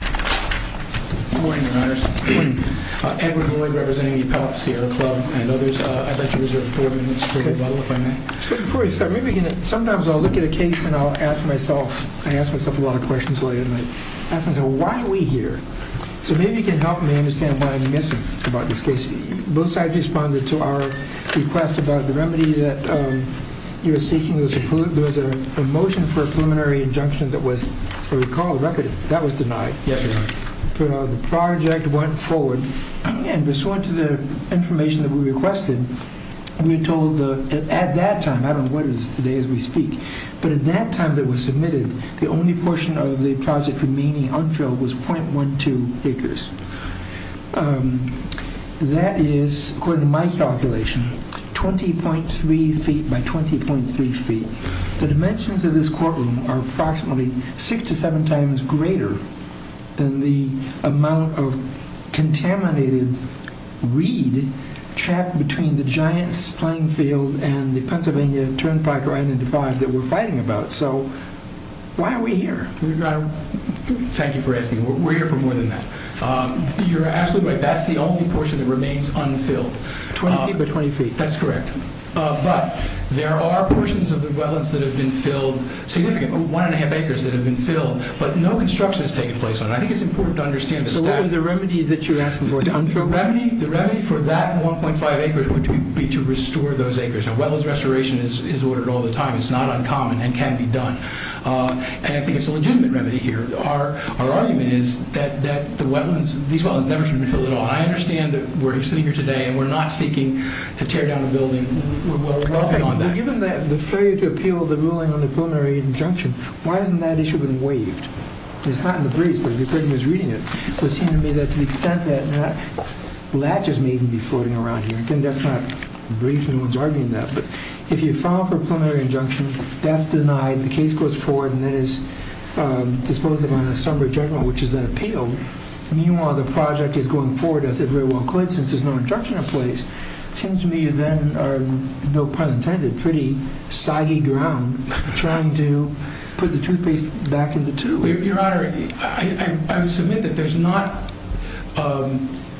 Good morning, your honors. Good morning. Edward Ward, representing the Appellate Sierra Club and others. I'd like to reserve four minutes for rebuttal, if I may. Before we start, sometimes I'll look at a case and I'll ask myself, I ask myself a lot of questions later, and I ask myself, why are we here? So maybe you can help me understand why I'm missing about this case. Both sides responded to our request about the remedy that you were seeking. There was a motion for a preliminary injunction that was, if I recall the record, that was denied. Yes, your honor. The project went forward, and we saw to the information that we requested, we were told at that time, I don't know what it is today as we speak, but at that time that was submitted, the only portion of the project remaining unfilled was 0.12 acres. That is, according to my calculation, 20.3 feet by 20.3 feet. The dimensions of this courtroom are approximately six to seven times greater than the amount of contaminated reed trapped between the giant playing field and the Pennsylvania Turnpike or Island Divide that we're fighting about. So why are we here? Thank you for asking. We're here for more than that. You're absolutely right. That's the only portion that remains unfilled. 20 feet by 20 feet. That's correct. But there are portions of the wetlands that have been filled significantly, one and a half acres that have been filled, but no construction has taken place on it. I think it's important to understand the stat. So what was the remedy that you're asking for? The remedy for that 1.5 acres would be to restore those acres. Now, wetlands restoration is ordered all the time. It's not uncommon and can be done. And I think it's a legitimate remedy here. Our argument is that these wetlands never should have been filled at all. I understand that we're sitting here today and we're not seeking to tear down a building. Given that the failure to appeal the ruling on the preliminary injunction, why hasn't that issue been waived? It's not in the briefs, but as I was reading it, it seemed to me that to the extent that latches may even be floating around here. Again, that's not brief. No one's arguing that. But if you file for a preliminary injunction, that's denied. The case goes forward and then is disposed of on a summary general, which is then appealed. Meanwhile, the project is going forward as it very well could since there's no injunction in place. It seems to me you then are, no pun intended, pretty soggy ground trying to put the toothpaste back in the tube. Your Honor, I would submit that there's not,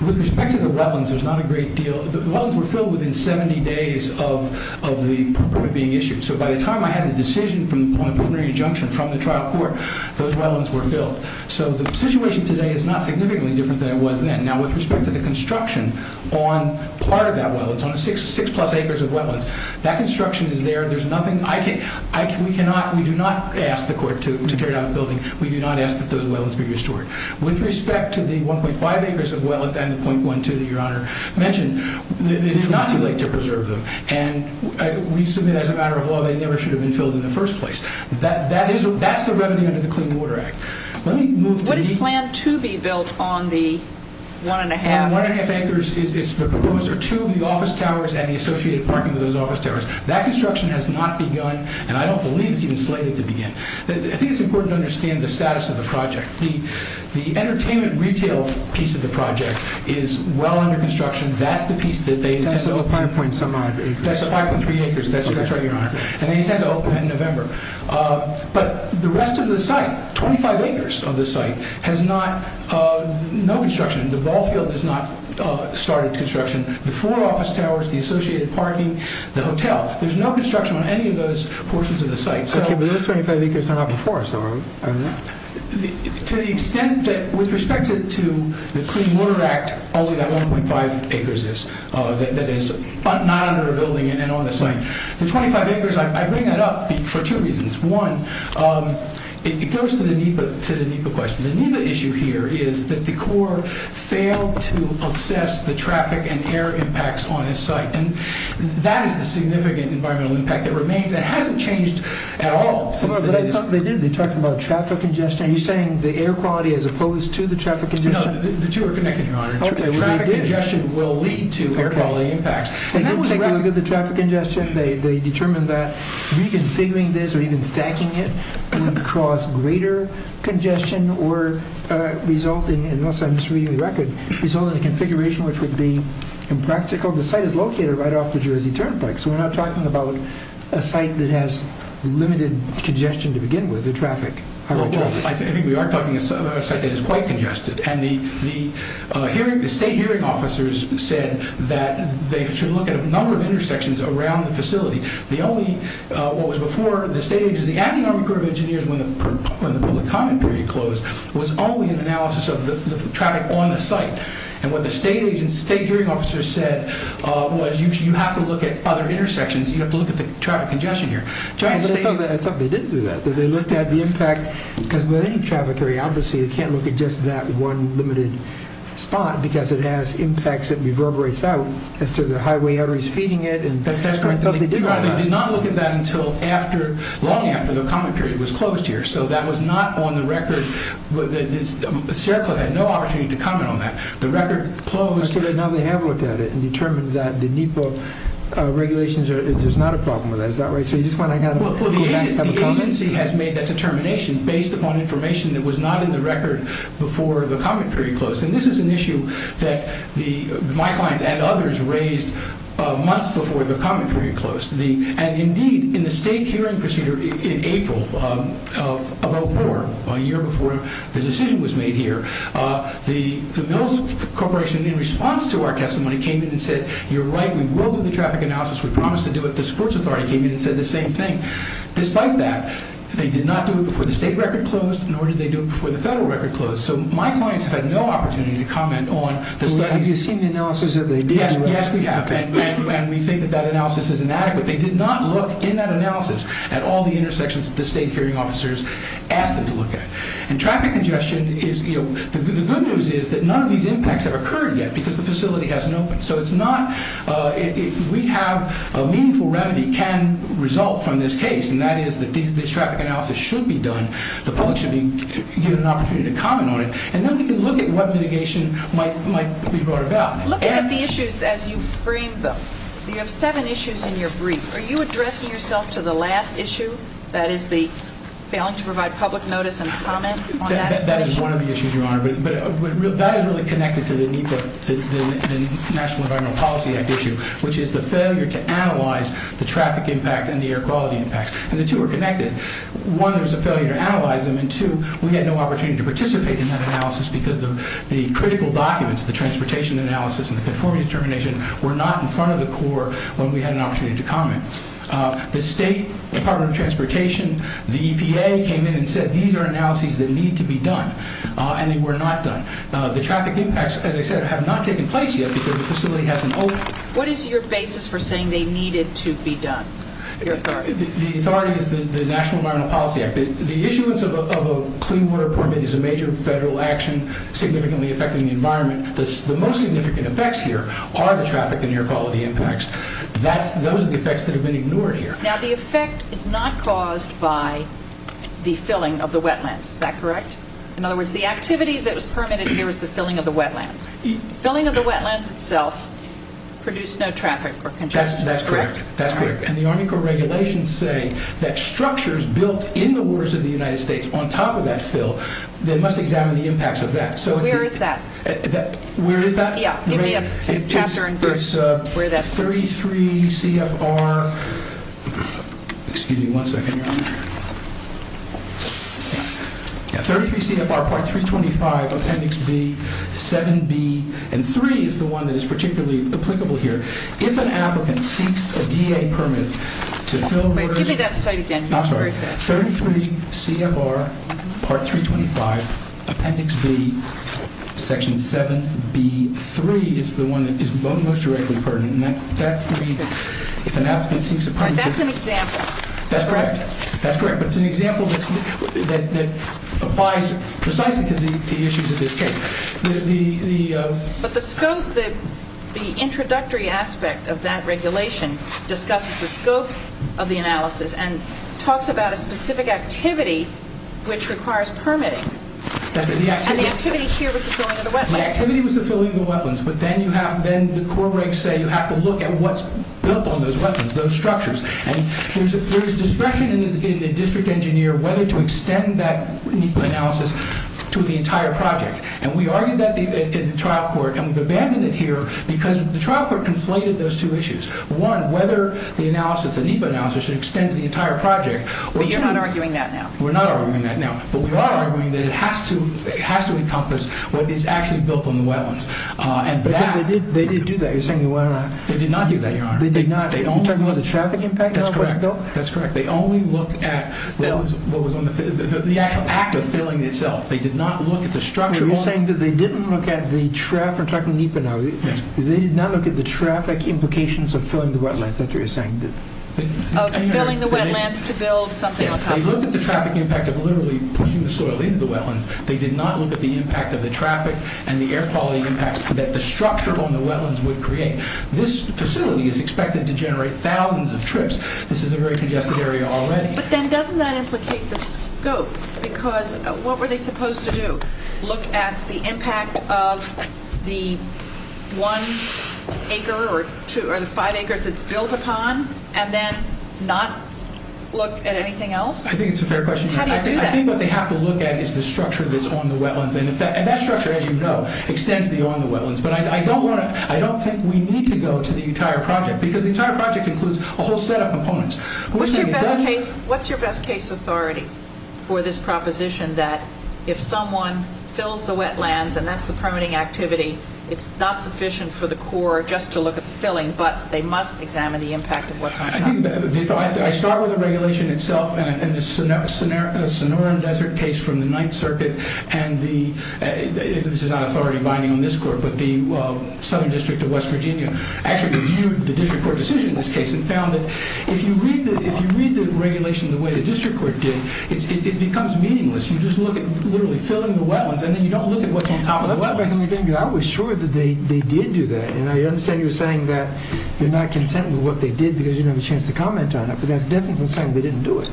with respect to the wetlands, there's not a great deal. The wetlands were filled within 70 days of the permit being issued. So by the time I had a decision from the preliminary injunction from the trial court, those wetlands were filled. So the situation today is not significantly different than it was then. Now, with respect to the construction on part of that well, it's on six plus acres of wetlands. That construction is there. There's nothing. We do not ask the court to tear down the building. We do not ask that those wetlands be restored. With respect to the 1.5 acres of wetlands and the 0.12 that Your Honor mentioned, it is not too late to preserve them. And we submit as a matter of law they never should have been filled in the first place. That's the revenue under the Clean Water Act. What is planned to be built on the 1.5 acres? On the 1.5 acres, it's proposed there are two of the office towers and the associated parking of those office towers. That construction has not begun, and I don't believe it's even slated to begin. I think it's important to understand the status of the project. The entertainment retail piece of the project is well under construction. That's the piece that they intend to open. That's the 5.3 acres. That's the 5.3 acres. That's right, Your Honor. And they intend to open that in November. But the rest of the site, 25 acres of the site, has no construction. The ball field has not started construction. The four office towers, the associated parking, the hotel, there's no construction on any of those portions of the site. To the extent that with respect to the Clean Water Act, only that 1.5 acres is that is not under a building and on the site. The 25 acres, I bring that up for two reasons. One, it goes to the NEPA question. The NEPA issue here is that the Corps failed to assess the traffic and air impacts on its site. And that is the significant environmental impact that remains. That hasn't changed at all. They did. They talked about traffic congestion. Are you saying the air quality as opposed to the traffic congestion? No, the two are connected, Your Honor. Traffic congestion will lead to air quality impacts. They did look at the traffic congestion. They determined that reconfiguring this or even stacking it would cause greater congestion or result in—unless I'm just reading the record—result in a configuration which would be impractical. The site is located right off the Jersey Turnpike. So we're not talking about a site that has limited congestion to begin with, the traffic. Well, I think we are talking about a site that is quite congested. And the state hearing officers said that they should look at a number of intersections around the facility. The only—what was before, the state—the acting Army Corps of Engineers, when the public comment period closed, was only an analysis of the traffic on the site. And what the state hearing officers said was you have to look at other intersections. You have to look at the traffic congestion here. I thought they didn't do that. They looked at the impact. With any traffic area, obviously, you can't look at just that one limited spot because it has impacts that reverberates out as to the highway arteries feeding it. That's correct. They did not look at that until after—long after the comment period was closed here. So that was not on the record. The Sheriff Club had no opportunity to comment on that. The record closed. Okay, but now they have looked at it and determined that the NEPA regulations are— there's not a problem with that. Is that right? Well, the agency has made that determination based upon information that was not in the record before the comment period closed. And this is an issue that my clients and others raised months before the comment period closed. And, indeed, in the state hearing procedure in April of 2004, a year before the decision was made here, the Mills Corporation, in response to our testimony, came in and said, you're right, we will do the traffic analysis. We promised to do it. The sports authority came in and said the same thing. Despite that, they did not do it before the state record closed, nor did they do it before the federal record closed. So my clients have had no opportunity to comment on the studies. Well, have you seen the analysis that they did? Yes, we have. And we say that that analysis is inadequate. They did not look in that analysis at all the intersections that the state hearing officers asked them to look at. And traffic congestion is— the good news is that none of these impacts have occurred yet because the facility hasn't opened. So it's not—we have a meaningful remedy can result from this case, and that is that this traffic analysis should be done. The public should be given an opportunity to comment on it. And then we can look at what mitigation might be brought about. Looking at the issues as you framed them, you have seven issues in your brief. Are you addressing yourself to the last issue, that is the failing to provide public notice and comment on that? That is one of the issues, Your Honor. But that is really connected to the National Environmental Policy Act issue, which is the failure to analyze the traffic impact and the air quality impacts. And the two are connected. One, there was a failure to analyze them, and two, we had no opportunity to participate in that analysis because the critical documents, the transportation analysis and the conformity determination were not in front of the Corps when we had an opportunity to comment. The State Department of Transportation, the EPA came in and said, these are analyses that need to be done. And they were not done. The traffic impacts, as I said, have not taken place yet because the facility hasn't opened. What is your basis for saying they needed to be done? The authority is the National Environmental Policy Act. The issuance of a clean water permit is a major federal action significantly affecting the environment. The most significant effects here are the traffic and air quality impacts. Those are the effects that have been ignored here. Now, the effect is not caused by the filling of the wetlands. Is that correct? In other words, the activity that was permitted here was the filling of the wetlands. The filling of the wetlands itself produced no traffic or congestion, correct? That's correct. And the Army Corps regulations say that structures built in the waters of the United States on top of that fill, they must examine the impacts of that. Where is that? Where is that? Yeah, give me a chapter. It's 33 CFR. Excuse me one second here. 33 CFR Part 325 Appendix B, 7B, and 3 is the one that is particularly applicable here. If an applicant seeks a DA permit to fill... Wait, give me that site again. I'm sorry. 33 CFR Part 325 Appendix B, Section 7B, 3 is the one that is most directly pertinent. That means if an applicant seeks a permit... That's an example. That's correct. That's correct. But it's an example that applies precisely to the issues of this case. But the scope, the introductory aspect of that regulation discusses the scope of the analysis and talks about a specific activity which requires permitting. And the activity here was the filling of the wetlands. The activity was the filling of the wetlands. But then the Corps breaks say you have to look at what's built on those wetlands, those structures. And there is discretion in the district engineer whether to extend that NEPA analysis to the entire project. And we argued that in the trial court. And we've abandoned it here because the trial court conflated those two issues. One, whether the analysis, the NEPA analysis, should extend to the entire project. But you're not arguing that now. We're not arguing that now. But we are arguing that it has to encompass what is actually built on the wetlands. And that... But they did do that. You're saying they went around. They did not do that, Your Honor. They did not. Are you talking about the traffic impact? That's correct. That's correct. They only looked at what was on the actual act of filling itself. They did not look at the structure. You're saying that they didn't look at the traffic, we're talking NEPA now. Yes. They did not look at the traffic implications of filling the wetlands. That's what you're saying. Of filling the wetlands to build something on top of it. They looked at the traffic impact of literally pushing the soil into the wetlands. They did not look at the impact of the traffic and the air quality impacts that the structure on the wetlands would create. This facility is expected to generate thousands of trips. This is a very congested area already. But then doesn't that implicate the scope? Because what were they supposed to do? Look at the impact of the one acre or the five acres it's built upon and then not look at anything else? I think it's a fair question. How do you do that? I think what they have to look at is the structure that's on the wetlands. And that structure, as you know, extends beyond the wetlands. But I don't think we need to go to the entire project because the entire project includes a whole set of components. What's your best case authority for this proposition that if someone fills the wetlands and that's the permitting activity, it's not sufficient for the Corps just to look at the filling, but they must examine the impact of what's on top of it? I start with the regulation itself. And the Sonoran Desert case from the Ninth Circuit, and this is not authority binding on this Court, but the Southern District of West Virginia actually reviewed the district court decision in this case and found that if you read the regulation the way the district court did, it becomes meaningless. You just look at literally filling the wetlands, and then you don't look at what's on top of the wetlands. I was sure that they did do that. And I understand you're saying that you're not content with what they did because you didn't have a chance to comment on it. But that's definitely not saying they didn't do it.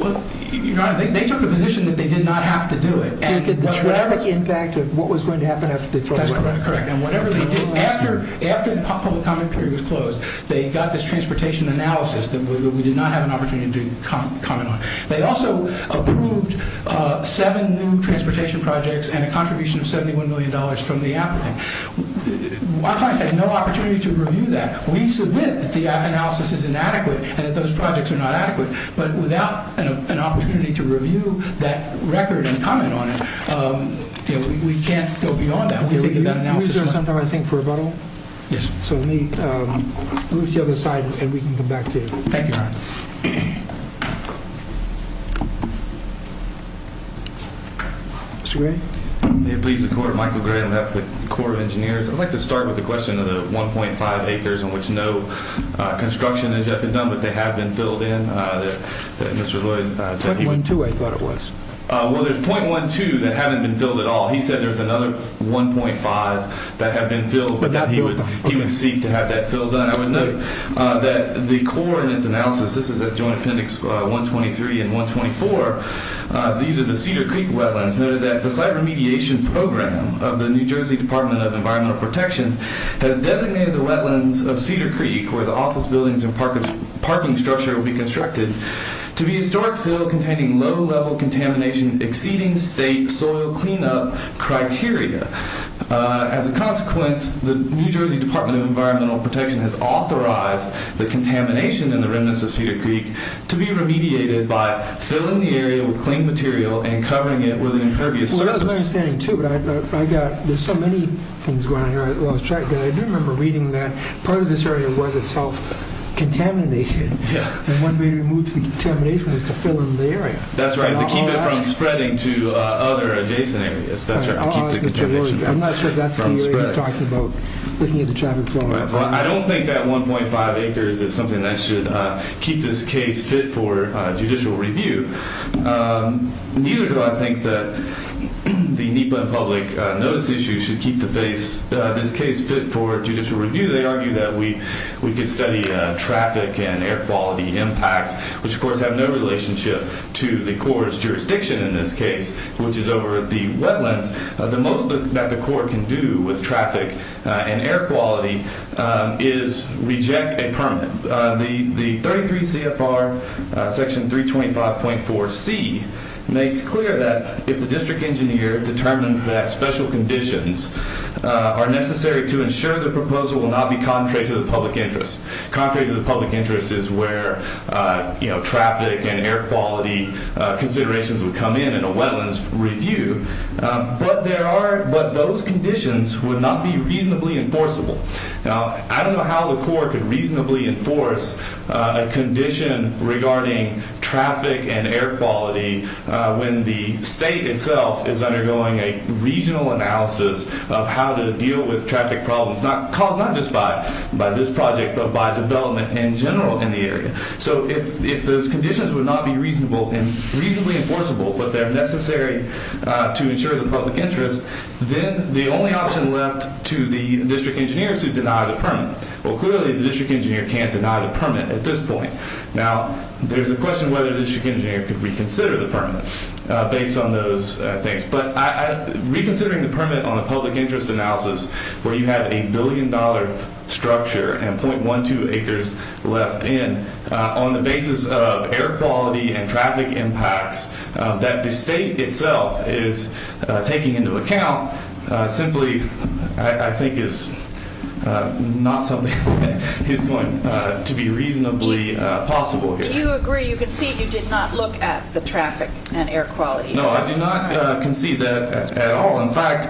They took a position that they did not have to do it. They took the traffic impact of what was going to happen after they throw it away. That's correct. After the public comment period was closed, they got this transportation analysis that we did not have an opportunity to comment on. They also approved seven new transportation projects and a contribution of $71 million from the applicant. Our clients had no opportunity to review that. We submit that the analysis is inadequate and that those projects are not adequate. But without an opportunity to review that record and comment on it, we can't go beyond that. Can we reserve some time, I think, for rebuttal? Yes. So let me move to the other side, and we can come back to you. Thank you, Ron. Mr. Gray? May it please the Court, Michael Gray on behalf of the Corps of Engineers. I'd like to start with the question of the 1.5 acres on which no construction has yet been done, but they have been filled in, that Mr. Lloyd said. 0.12, I thought it was. Well, there's 0.12 that haven't been filled at all. He said there's another 1.5 that have been filled, but he would seek to have that filled. I would note that the Corps in its analysis, this is at Joint Appendix 123 and 124, these are the Cedar Creek wetlands. It's noted that the site remediation program of the New Jersey Department of Environmental Protection has designated the wetlands of Cedar Creek, where the office buildings and parking structure will be constructed, to be historic fill containing low-level contamination, exceeding state soil cleanup criteria. As a consequence, the New Jersey Department of Environmental Protection has authorized the contamination in the remnants of Cedar Creek to be remediated by filling the area with clean material and covering it with an impervious surface. Well, that's my understanding, too, but I got, there's so many things going on here while I was tracking, but I do remember reading that part of this area was itself contaminated, and one way to remove the contamination was to fill in the area. That's right, to keep it from spreading to other adjacent areas. I'm not sure if that's the area he's talking about, looking at the traffic flow. I don't think that 1.5 acres is something that should keep this case fit for judicial review. Neither do I think that the NEPA public notice issue should keep this case fit for judicial review. They argue that we could study traffic and air quality impacts, which, of course, have no relationship to the Corps' jurisdiction in this case, which is over the wetlands. The most that the Corps can do with traffic and air quality is reject a permit. The 33 CFR section 325.4C makes clear that if the district engineer determines that special conditions are necessary to ensure the proposal will not be contrary to the public interest, contrary to the public interest is where traffic and air quality considerations would come in in a wetlands review, but those conditions would not be reasonably enforceable. Now, I don't know how the Corps could reasonably enforce a condition regarding traffic and air quality when the state itself is undergoing a regional analysis of how to deal with traffic problems, caused not just by this project, but by development in general in the area. If those conditions would not be reasonably enforceable, but they're necessary to ensure the public interest, then the only option left to the district engineer is to deny the permit. Well, clearly, the district engineer can't deny the permit at this point. Now, there's a question whether the district engineer could reconsider the permit based on those things, but reconsidering the permit on a public interest analysis where you have a billion-dollar structure and 0.12 acres left in on the basis of air quality and traffic impacts that the state itself is taking into account simply, I think, is not something that is going to be reasonably possible here. You agree. You concede you did not look at the traffic and air quality. No, I do not concede that at all. In fact,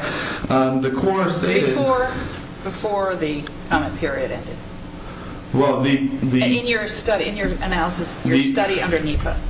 the Corps stated... Before the permit period ended. In your analysis, your study under NEPA.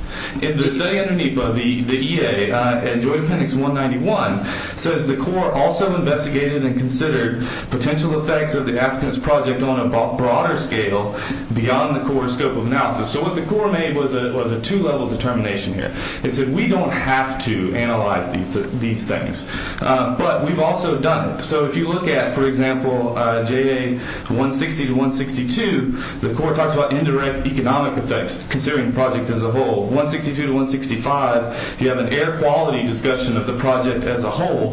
In the study under NEPA, the EA, in Joint Appendix 191, says the Corps also investigated and considered potential effects of the applicant's project on a broader scale beyond the Corps' scope of analysis. So what the Corps made was a two-level determination here. It said we don't have to analyze these things, but we've also done it. So if you look at, for example, J.A. 160-162, the Corps talks about indirect economic effects, considering the project as a whole. 162-165, you have an air quality discussion of the project as a whole,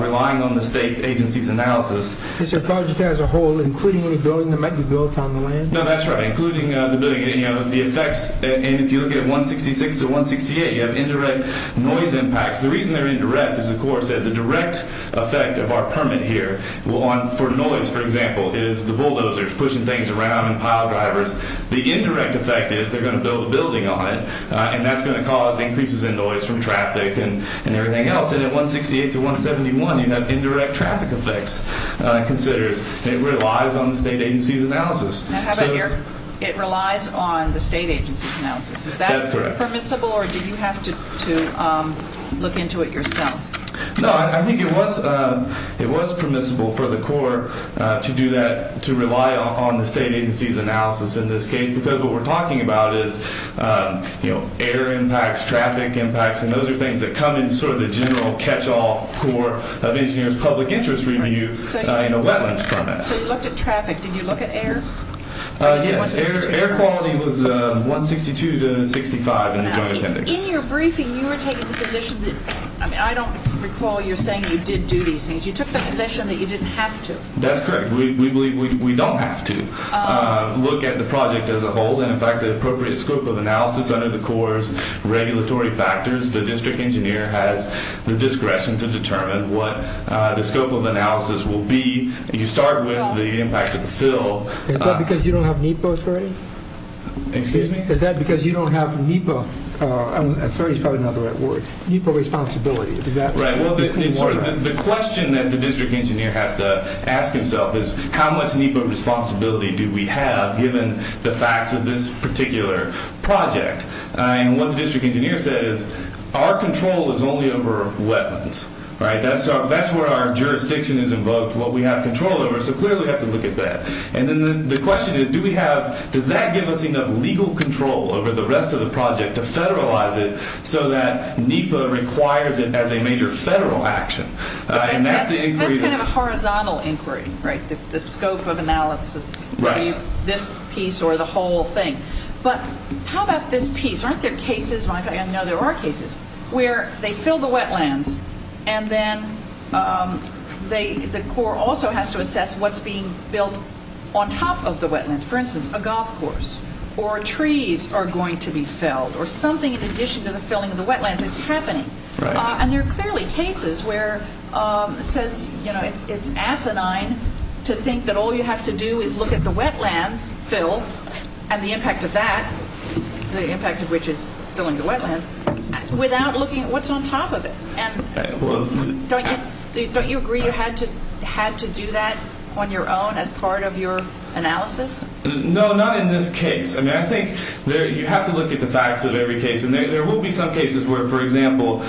relying on the state agency's analysis. It's a project as a whole, including any building that might be built on the land? No, that's right, including the building. And if you look at 166-168, you have indirect noise impacts. The reason they're indirect is the Corps said the direct effect of our permit here, for noise, for example, is the bulldozers pushing things around and pile drivers. The indirect effect is they're going to build a building on it, and that's going to cause increases in noise from traffic and everything else. And then 168-171, you have indirect traffic effects, considers. It relies on the state agency's analysis. How about here? It relies on the state agency's analysis. Is that permissible? Or do you have to look into it yourself? No, I think it was permissible for the Corps to do that, to rely on the state agency's analysis in this case, because what we're talking about is air impacts, traffic impacts, and those are things that come in sort of the general catch-all Corps of Engineers public interest reviews in a wetlands permit. So you looked at traffic. Did you look at air? Yes. Air quality was 162-65 in the Joint Appendix. In your briefing, you were taking the position that, I mean, I don't recall you saying you did do these things. You took the position that you didn't have to. That's correct. We don't have to look at the project as a whole. And, in fact, the appropriate scope of analysis under the Corps' regulatory factors, the district engineer has the discretion to determine what the scope of analysis will be. You start with the impact of the fill. Is that because you don't have NEPA authority? Excuse me? Is that because you don't have NEPA authority? That's probably not the right word. NEPA responsibility. Right. The question that the district engineer has to ask himself is, how much NEPA responsibility do we have given the facts of this particular project? And what the district engineer said is, our control is only over wetlands, right? That's where our jurisdiction is invoked. What we have control over. So, clearly, we have to look at that. And then the question is, do we have – does that give us enough legal control over the rest of the project to federalize it so that NEPA requires it as a major federal action? And that's the inquiry. That's kind of a horizontal inquiry, right? The scope of analysis. Right. This piece or the whole thing. But how about this piece? Aren't there cases – and I know there are cases – where they fill the wetlands and then the Corps also has to assess what's being built on top of the wetlands. For instance, a golf course or trees are going to be felled or something in addition to the filling of the wetlands is happening. And there are clearly cases where it's asinine to think that all you have to do is look at the wetlands filled and the impact of that, the impact of which is filling the wetlands, without looking at what's on top of it. And don't you agree you had to do that on your own as part of your analysis? No, not in this case. I mean, I think you have to look at the facts of every case. And there will be some cases where, for example,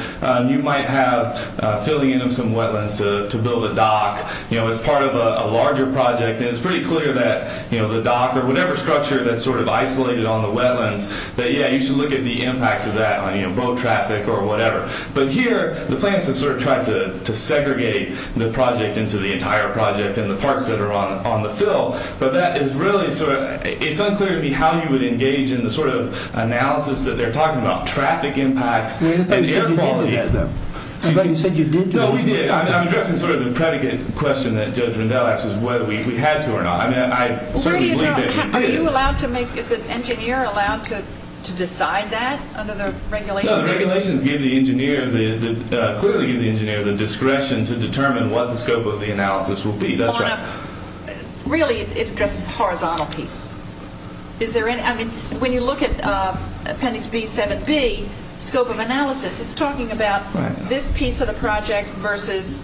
you might have filling in of some wetlands to build a dock, you know, as part of a larger project. And it's pretty clear that, you know, the dock or whatever structure that's sort of isolated on the wetlands, that, yeah, you should look at the impacts of that on, you know, boat traffic or whatever. But here, the plants have sort of tried to segregate the project into the entire project and the parts that are on the fill. But that is really sort of – it's unclear to me how you would engage in the sort of analysis that they're talking about, traffic impacts and air quality. I thought you said you did do that, though. I thought you said you did do that. No, we did. I'm addressing sort of the predicate question that Judge Rendell asked us whether we had to or not. I mean, I certainly believe that we did. Are you allowed to make – is the engineer allowed to decide that under the regulations? No, the regulations give the engineer the – clearly give the engineer the discretion to determine what the scope of the analysis will be. That's right. On a – really, it addresses a horizontal piece. Is there any – I mean, when you look at Appendix B7B, scope of analysis, it's talking about this piece of the project versus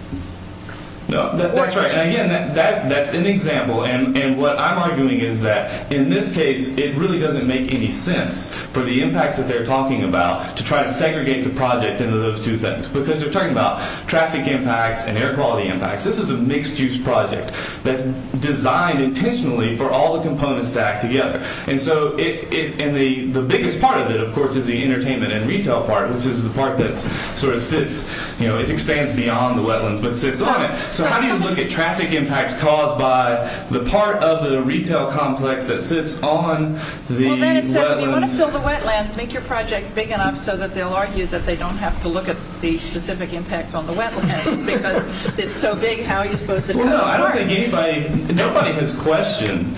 – No, that's right. And, again, that's an example, and what I'm arguing is that in this case, it really doesn't make any sense for the impacts that they're talking about to try to segregate the project into those two things because they're talking about traffic impacts and air quality impacts. This is a mixed-use project that's designed intentionally for all the components to act together. And so it – and the biggest part of it, of course, is the entertainment and retail part, which is the part that sort of sits – you know, it expands beyond the wetlands but sits on it. So how do you look at traffic impacts caused by the part of the retail complex that sits on the wetlands? Well, then it says, if you want to fill the wetlands, make your project big enough so that they'll argue that they don't have to look at the specific impact on the wetlands because it's so big, how are you supposed to – Well, no, I don't think anybody – nobody has questioned,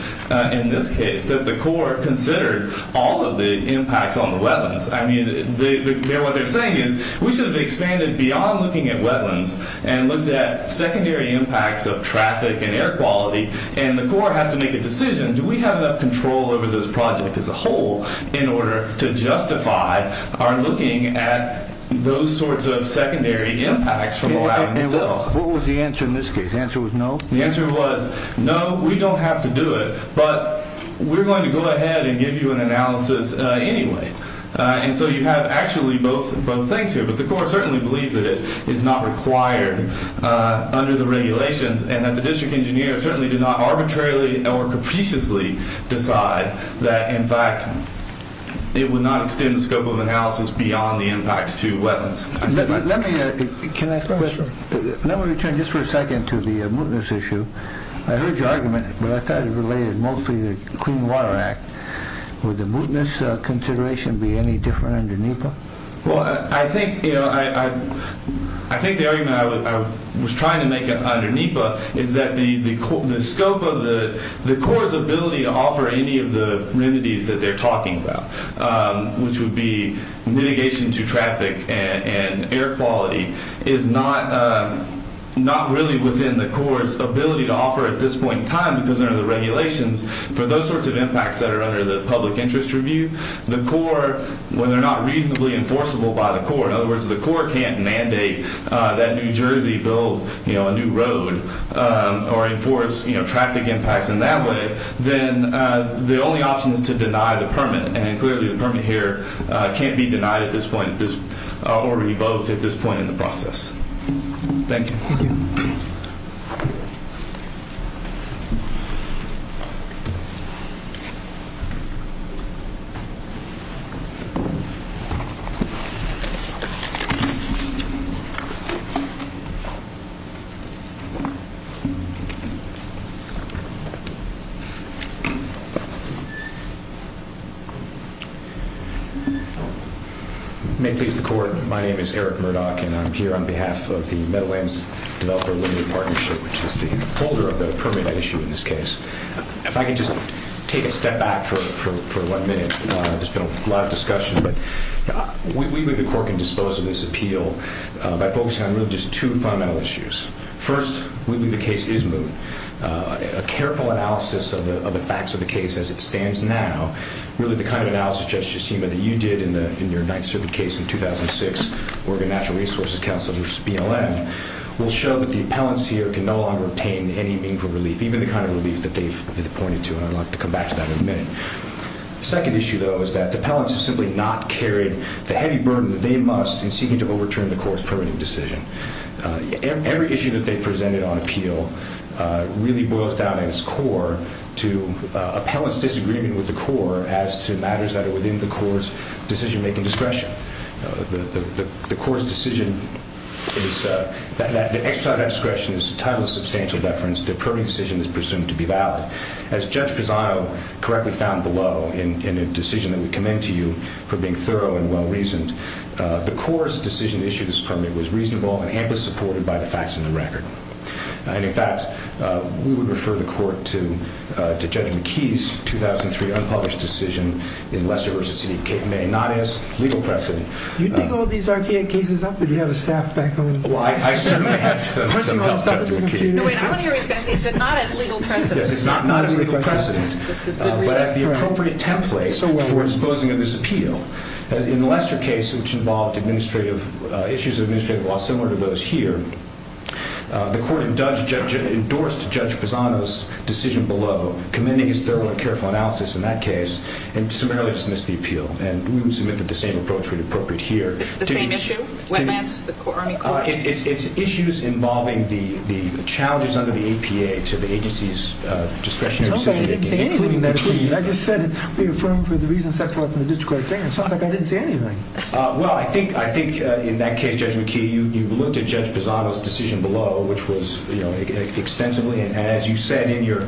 in this case, that the Corps considered all of the impacts on the wetlands. I mean, what they're saying is we should have expanded beyond looking at wetlands and looked at secondary impacts of traffic and air quality. And the Corps has to make a decision, do we have enough control over this project as a whole in order to justify our looking at those sorts of secondary impacts from allowing to fill? And what was the answer in this case? The answer was no? The answer was no, we don't have to do it, but we're going to go ahead and give you an analysis anyway. And so you have actually both things here. But the Corps certainly believes that it is not required under the regulations and that the district engineer certainly did not arbitrarily or capriciously decide that, in fact, it would not extend the scope of analysis beyond the impacts to wetlands. Let me – can I – let me return just for a second to the mootness issue. I heard your argument, but I thought it related mostly to the Clean Water Act. Would the mootness consideration be any different under NEPA? Well, I think, you know, I think the argument I was trying to make under NEPA is that the scope of the – the Corps' ability to offer any of the remedies that they're talking about, which would be mitigation to traffic and air quality, is not really within the Corps' ability to offer at this point in time because under the regulations for those sorts of impacts that are under the public interest review. The Corps, when they're not reasonably enforceable by the Corps, in other words, the Corps can't mandate that New Jersey build, you know, a new road or enforce, you know, traffic impacts in that way, then the only option is to deny the permit. And clearly the permit here can't be denied at this point or revoked at this point in the process. Thank you. Thank you. Thank you. May it please the Court, my name is Eric Murdoch, and I'm here on behalf of the Meadowlands Developer Limited Partnership, which is the holder of the permit issue in this case. If I could just take a step back for one minute, there's been a lot of discussion, but we believe the Corps can dispose of this appeal by focusing on really just two fundamental issues. First, we believe the case is moved. A careful analysis of the facts of the case as it stands now, really the kind of analysis, Judge Jasima, that you did in your Ninth Circuit case in 2006, Oregon Natural Resources Council, which is BLM, will show that the appellants here can no longer obtain any meaningful relief, even the kind of relief that they've pointed to, and I'd like to come back to that in a minute. The second issue, though, is that the appellants have simply not carried the heavy burden that they must in seeking to overturn the Corps' permitting decision. Every issue that they've presented on appeal really boils down, at its core, to appellants' disagreement with the Corps as to matters that are within the Corps' decision-making discretion. The Corps' decision is that the exercise of that discretion is entitled to substantial deference. The permitting decision is presumed to be valid. As Judge Pisano correctly found below in a decision that we commend to you for being thorough and well-reasoned, the Corps' decision to issue this permit was reasonable and amply supported by the facts and the record. And, in fact, we would refer the Court to Judge McKee's 2003 unpublished decision in Lesser v. C.D.C., made not as legal precedent. You dig all these RTA cases up, or do you have a staff back home? Well, I certainly have some help, Judge McKee. No, wait, I want to hear what he's going to say. He said not as legal precedent. Yes, it's not as legal precedent, but as the appropriate template for disposing of this appeal. In the Lesser case, which involved issues of administrative law similar to those here, the Court endorsed Judge Pisano's decision below, commending his thorough and careful analysis in that case, and summarily dismissed the appeal. And we would submit that the same approach would be appropriate here. The same issue? It's issues involving the challenges under the APA to the agency's discretionary decision-making, including McKee. No, I didn't say anything in that opinion. I just said they affirmed for the reasons set forth in the district court opinion. It sounds like I didn't say anything. Well, I think in that case, Judge McKee, you looked at Judge Pisano's decision below, which was extensively, and as you said in your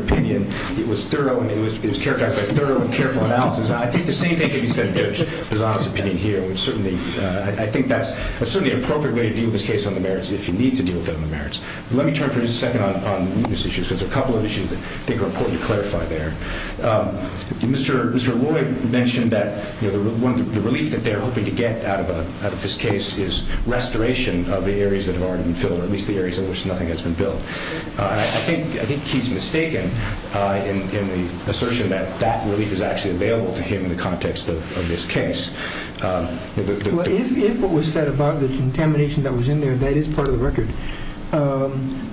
opinion, it was thorough and it was characterized by thorough and careful analysis. I think the same thing can be said of Judge Pisano's opinion here. I think that's certainly an appropriate way to deal with this case on the merits, if you need to deal with it on the merits. Let me turn for just a second on these issues, because there are a couple of issues that I think are important to clarify there. Mr. Lloyd mentioned that the relief that they're hoping to get out of this case is restoration of the areas that have already been filled, or at least the areas in which nothing has been built. I think he's mistaken in the assertion that that relief is actually available to him in the context of this case. If what was said about the contamination that was in there, that is part of the record,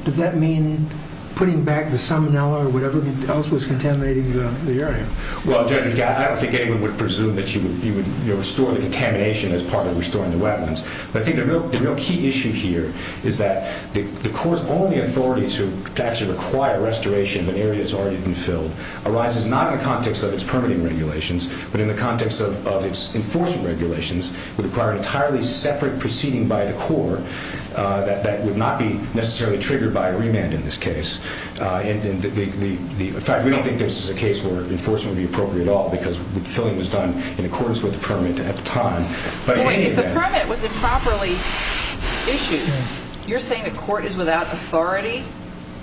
does that mean putting back the salmonella or whatever else was contaminating the area? Well, Judge, I don't think anyone would presume that you would restore the contamination as part of restoring the wetlands. But I think the real key issue here is that the court's only authority to actually require restoration of an area that's already been filled arises not in the context of its permitting regulations, but in the context of its enforcement regulations, would require an entirely separate proceeding by the court that would not be necessarily triggered by a remand in this case. In fact, we don't think this is a case where enforcement would be appropriate at all, because the filling was done in accordance with the permit at the time. If the permit was improperly issued, you're saying the court is without authority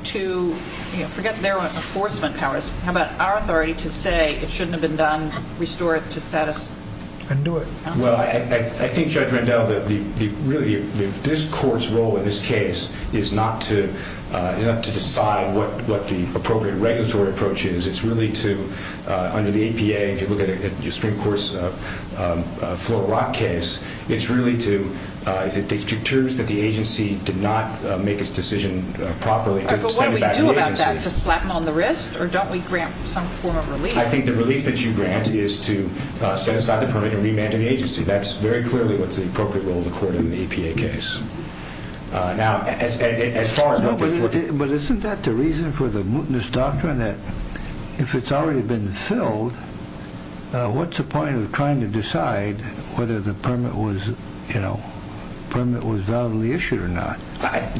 to – forget their enforcement powers. How about our authority to say it shouldn't have been done, restore it to status? Undo it. Well, I think, Judge Randell, that really this court's role in this case is not to decide what the appropriate regulatory approach is. It's really to – under the APA, if you look at your Supreme Court's Float or Rock case, it's really to – if it deters that the agency did not make its decision properly, to send it back to the agency. But what do we do about that? To slap them on the wrist? Or don't we grant some form of relief? I think the relief that you grant is to set aside the permit and remand to the agency. That's very clearly what's the appropriate role of the court in the APA case. Now, as far as – But isn't that the reason for the mutinous doctrine that if it's already been filled, what's the point of trying to decide whether the permit was, you know, permit was validly issued or not?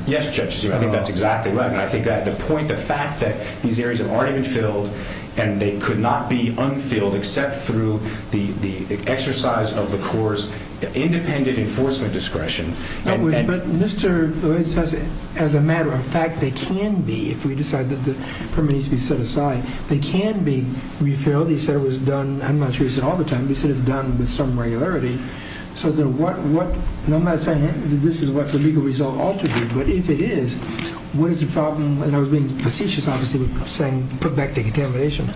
Yes, Judge, I think that's exactly right. I think that the point, the fact that these areas aren't even filled and they could not be unfilled except through the exercise of the court's independent enforcement discretion. But Mr. Lloyd says, as a matter of fact, they can be, if we decide that the permit needs to be set aside. They can be refilled. He said it was done – I'm not sure he said all the time. He said it's done with some regularity. So then what – and I'm not saying that this is what the legal result ought to be. But if it is, what is the problem? And I was being facetious, obviously, with saying put back the contamination.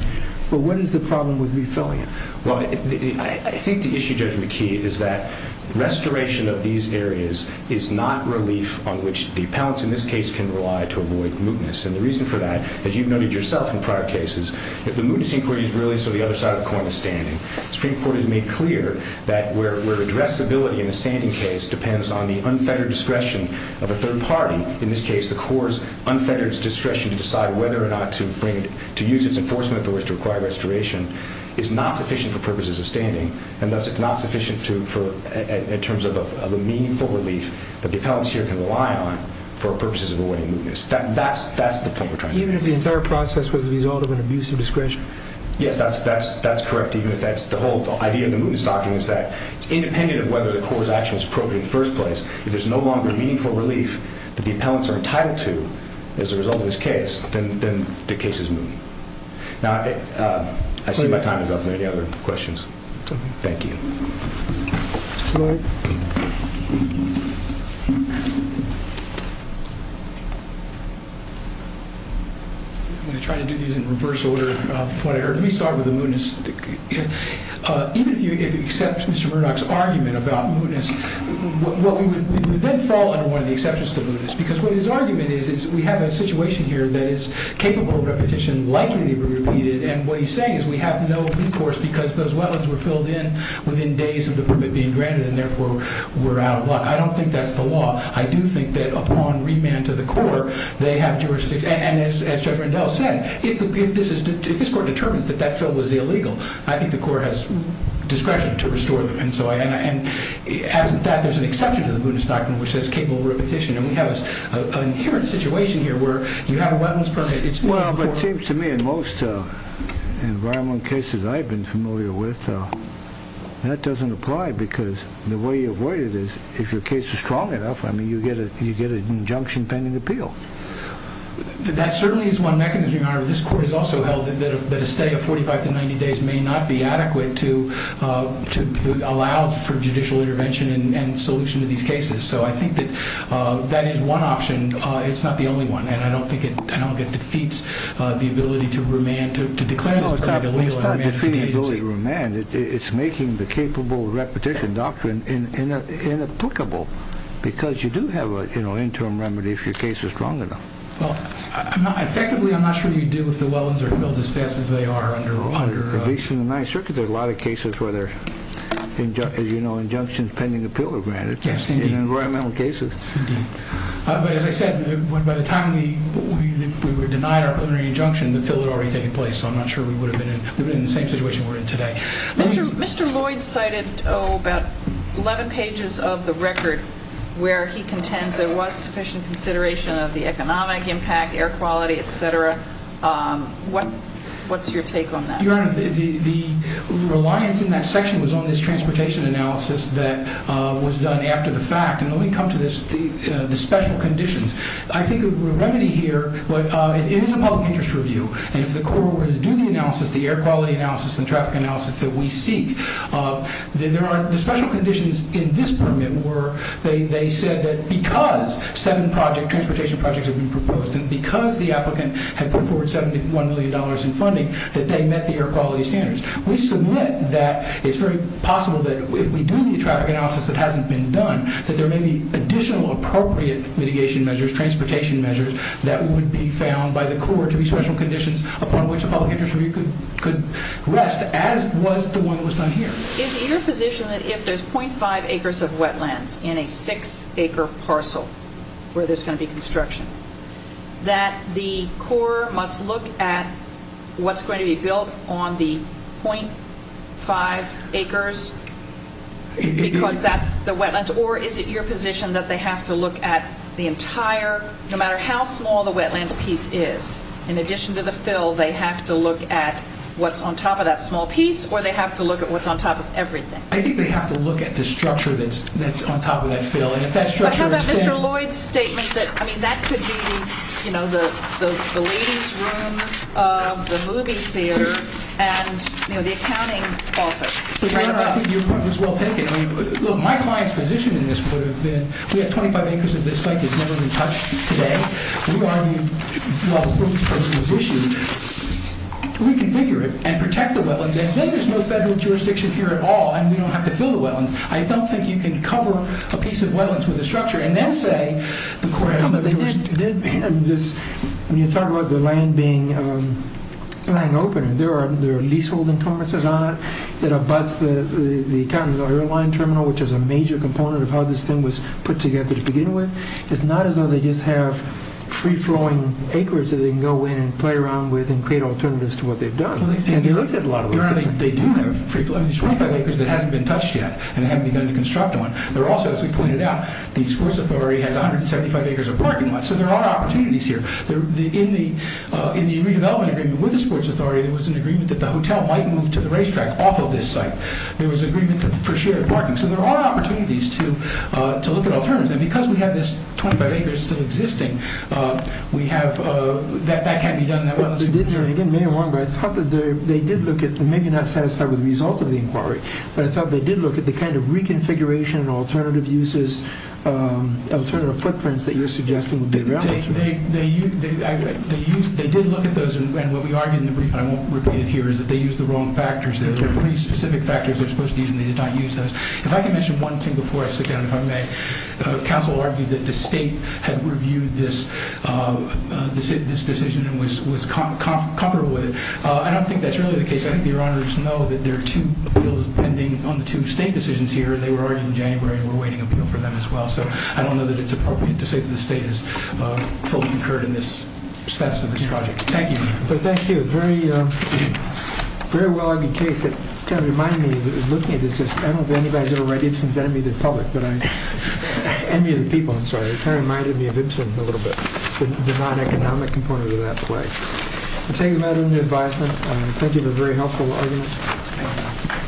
But what is the problem with refilling it? Well, I think the issue, Judge McKee, is that restoration of these areas is not relief on which the appellants in this case can rely to avoid mutinous. And the reason for that, as you've noted yourself in prior cases, that the mutinous inquiry is really so the other side of the coin is standing. The Supreme Court has made clear that where addressability in a standing case depends on the unfettered discretion of a third party, in this case the court's unfettered discretion to decide whether or not to bring – to use its enforcement authorities to require restoration is not sufficient for purposes of standing, and thus it's not sufficient to – in terms of a meaningful relief that the appellants here can rely on for purposes of avoiding mutinous. That's the point we're trying to make. Even if the entire process was the result of an abusive discretion? Yes, that's correct, even if that's – the whole idea of the mutinous doctrine is that it's independent of whether the court's action was appropriate in the first place. If there's no longer meaningful relief that the appellants are entitled to as a result of this case, then the case is moot. Now, I see my time is up. Any other questions? Thank you. I'm going to try to do these in reverse order of what I heard. Let me start with the mootness. Even if you accept Mr. Murdoch's argument about mootness, we would then fall under one of the exceptions to mootness, because what his argument is, is we have a situation here that is capable of repetition, likely to be repeated, and what he's saying is we have no recourse, because those wetlands were filled in within days of the permit being granted, and therefore we're out of luck. I don't think that's the law. I do think that upon remand to the court, they have jurisdiction. And as Judge Rendell said, if this court determines that that fill was illegal, I think the court has discretion to restore them. And as a fact, there's an exception to the mootness doctrine which says capable of repetition, and we have an inherent situation here where you have a wetlands permit. Well, it seems to me in most environmental cases I've been familiar with, that doesn't apply because the way you avoid it is if your case is strong enough, you get an injunction pending appeal. That certainly is one mechanism, Your Honor. This court has also held that a stay of 45 to 90 days may not be adequate to allow for judicial intervention and solution to these cases. So I think that that is one option. It's not the only one, and I don't think it defeats the ability to remand, to declare this permit illegal in an emergency agency. No, it's not defeating the ability to remand. It's making the capable repetition doctrine inapplicable because you do have an interim remedy if your case is strong enough. Well, effectively, I'm not sure you do if the wetlands are filled as fast as they are. At least in the Ninth Circuit, there are a lot of cases where there are, as you know, injunctions pending appeal are granted in environmental cases. Indeed. But as I said, by the time we were denied our preliminary injunction, the appeal had already taken place, so I'm not sure we would have been in the same situation we're in today. Mr. Lloyd cited about 11 pages of the record where he contends there was sufficient consideration of the economic impact, air quality, et cetera. What's your take on that? Your Honor, the reliance in that section was on this transportation analysis that was done after the fact. And let me come to the special conditions. I think the remedy here, it is a public interest review, and if the court were to do the analysis, the air quality analysis and traffic analysis that we seek, the special conditions in this permit were they said that because seven transportation projects had been proposed and because the applicant had put forward $71 million in funding that they met the air quality standards. We submit that it's very possible that if we do the traffic analysis that hasn't been done, that there may be additional appropriate mitigation measures, transportation measures, that would be found by the court to be special conditions upon which a public interest review could rest, as was the one that was done here. Is it your position that if there's .5 acres of wetlands in a six-acre parcel where there's going to be construction, that the court must look at what's going to be built on the .5 acres because that's the wetlands? Or is it your position that they have to look at the entire, no matter how small the wetlands piece is, in addition to the fill, they have to look at what's on top of that small piece, or they have to look at what's on top of everything? I think they have to look at the structure that's on top of that fill. But how about Mr. Lloyd's statement that that could be the ladies' rooms of the movie theater and the accounting office? I think your point was well taken. My client's position in this would have been, we have 25 acres of this site that's never been touched today. We already, while the permits proposal was issued, reconfigure it and protect the wetlands. And then there's no federal jurisdiction here at all, and we don't have to fill the wetlands. I don't think you can cover a piece of wetlands with a structure and then say the court has no jurisdiction. When you talk about the land being open, there are leaseholding permits on it. It abuts the county airline terminal, which is a major component of how this thing was put together to begin with. It's not as though they just have free-flowing acres that they can go in and play around with and create alternatives to what they've done. And they looked at a lot of those things. These 25 acres that haven't been touched yet and haven't begun to construct them, they're also, as we pointed out, the sports authority has 175 acres of parking lots. So there are opportunities here. In the redevelopment agreement with the sports authority, there was an agreement that the hotel might move to the racetrack off of this site. There was an agreement for shared parking. So there are opportunities to look at alternatives. And because we have this 25 acres still existing, that can't be done in that way. Again, may I wrong, but I thought that they did look at, maybe not satisfied with the result of the inquiry, but I thought they did look at the kind of reconfiguration and alternative uses, alternative footprints that you're suggesting would be relevant. They did look at those. And what we argued in the brief, and I won't repeat it here, is that they used the wrong factors. There were three specific factors they were supposed to use, and they did not use those. If I can mention one thing before I sit down, if I may. Council argued that the state had reviewed this decision and was comfortable with it. I don't think that's really the case. I think your honors know that there are two appeals pending on the two state decisions here, and they were already in January and we're waiting on an appeal for them as well. So I don't know that it's appropriate to say that the state is fully incurred in the status of this project. Thank you. Thank you. Very well-argued case. It kind of reminded me, looking at this, I don't know if anybody has ever read Ibsen's Enemy of the Public, Enemy of the People, I'm sorry. It kind of reminded me of Ibsen a little bit, the non-economic component of that play. I take that as an advisement. Thank you for a very helpful argument.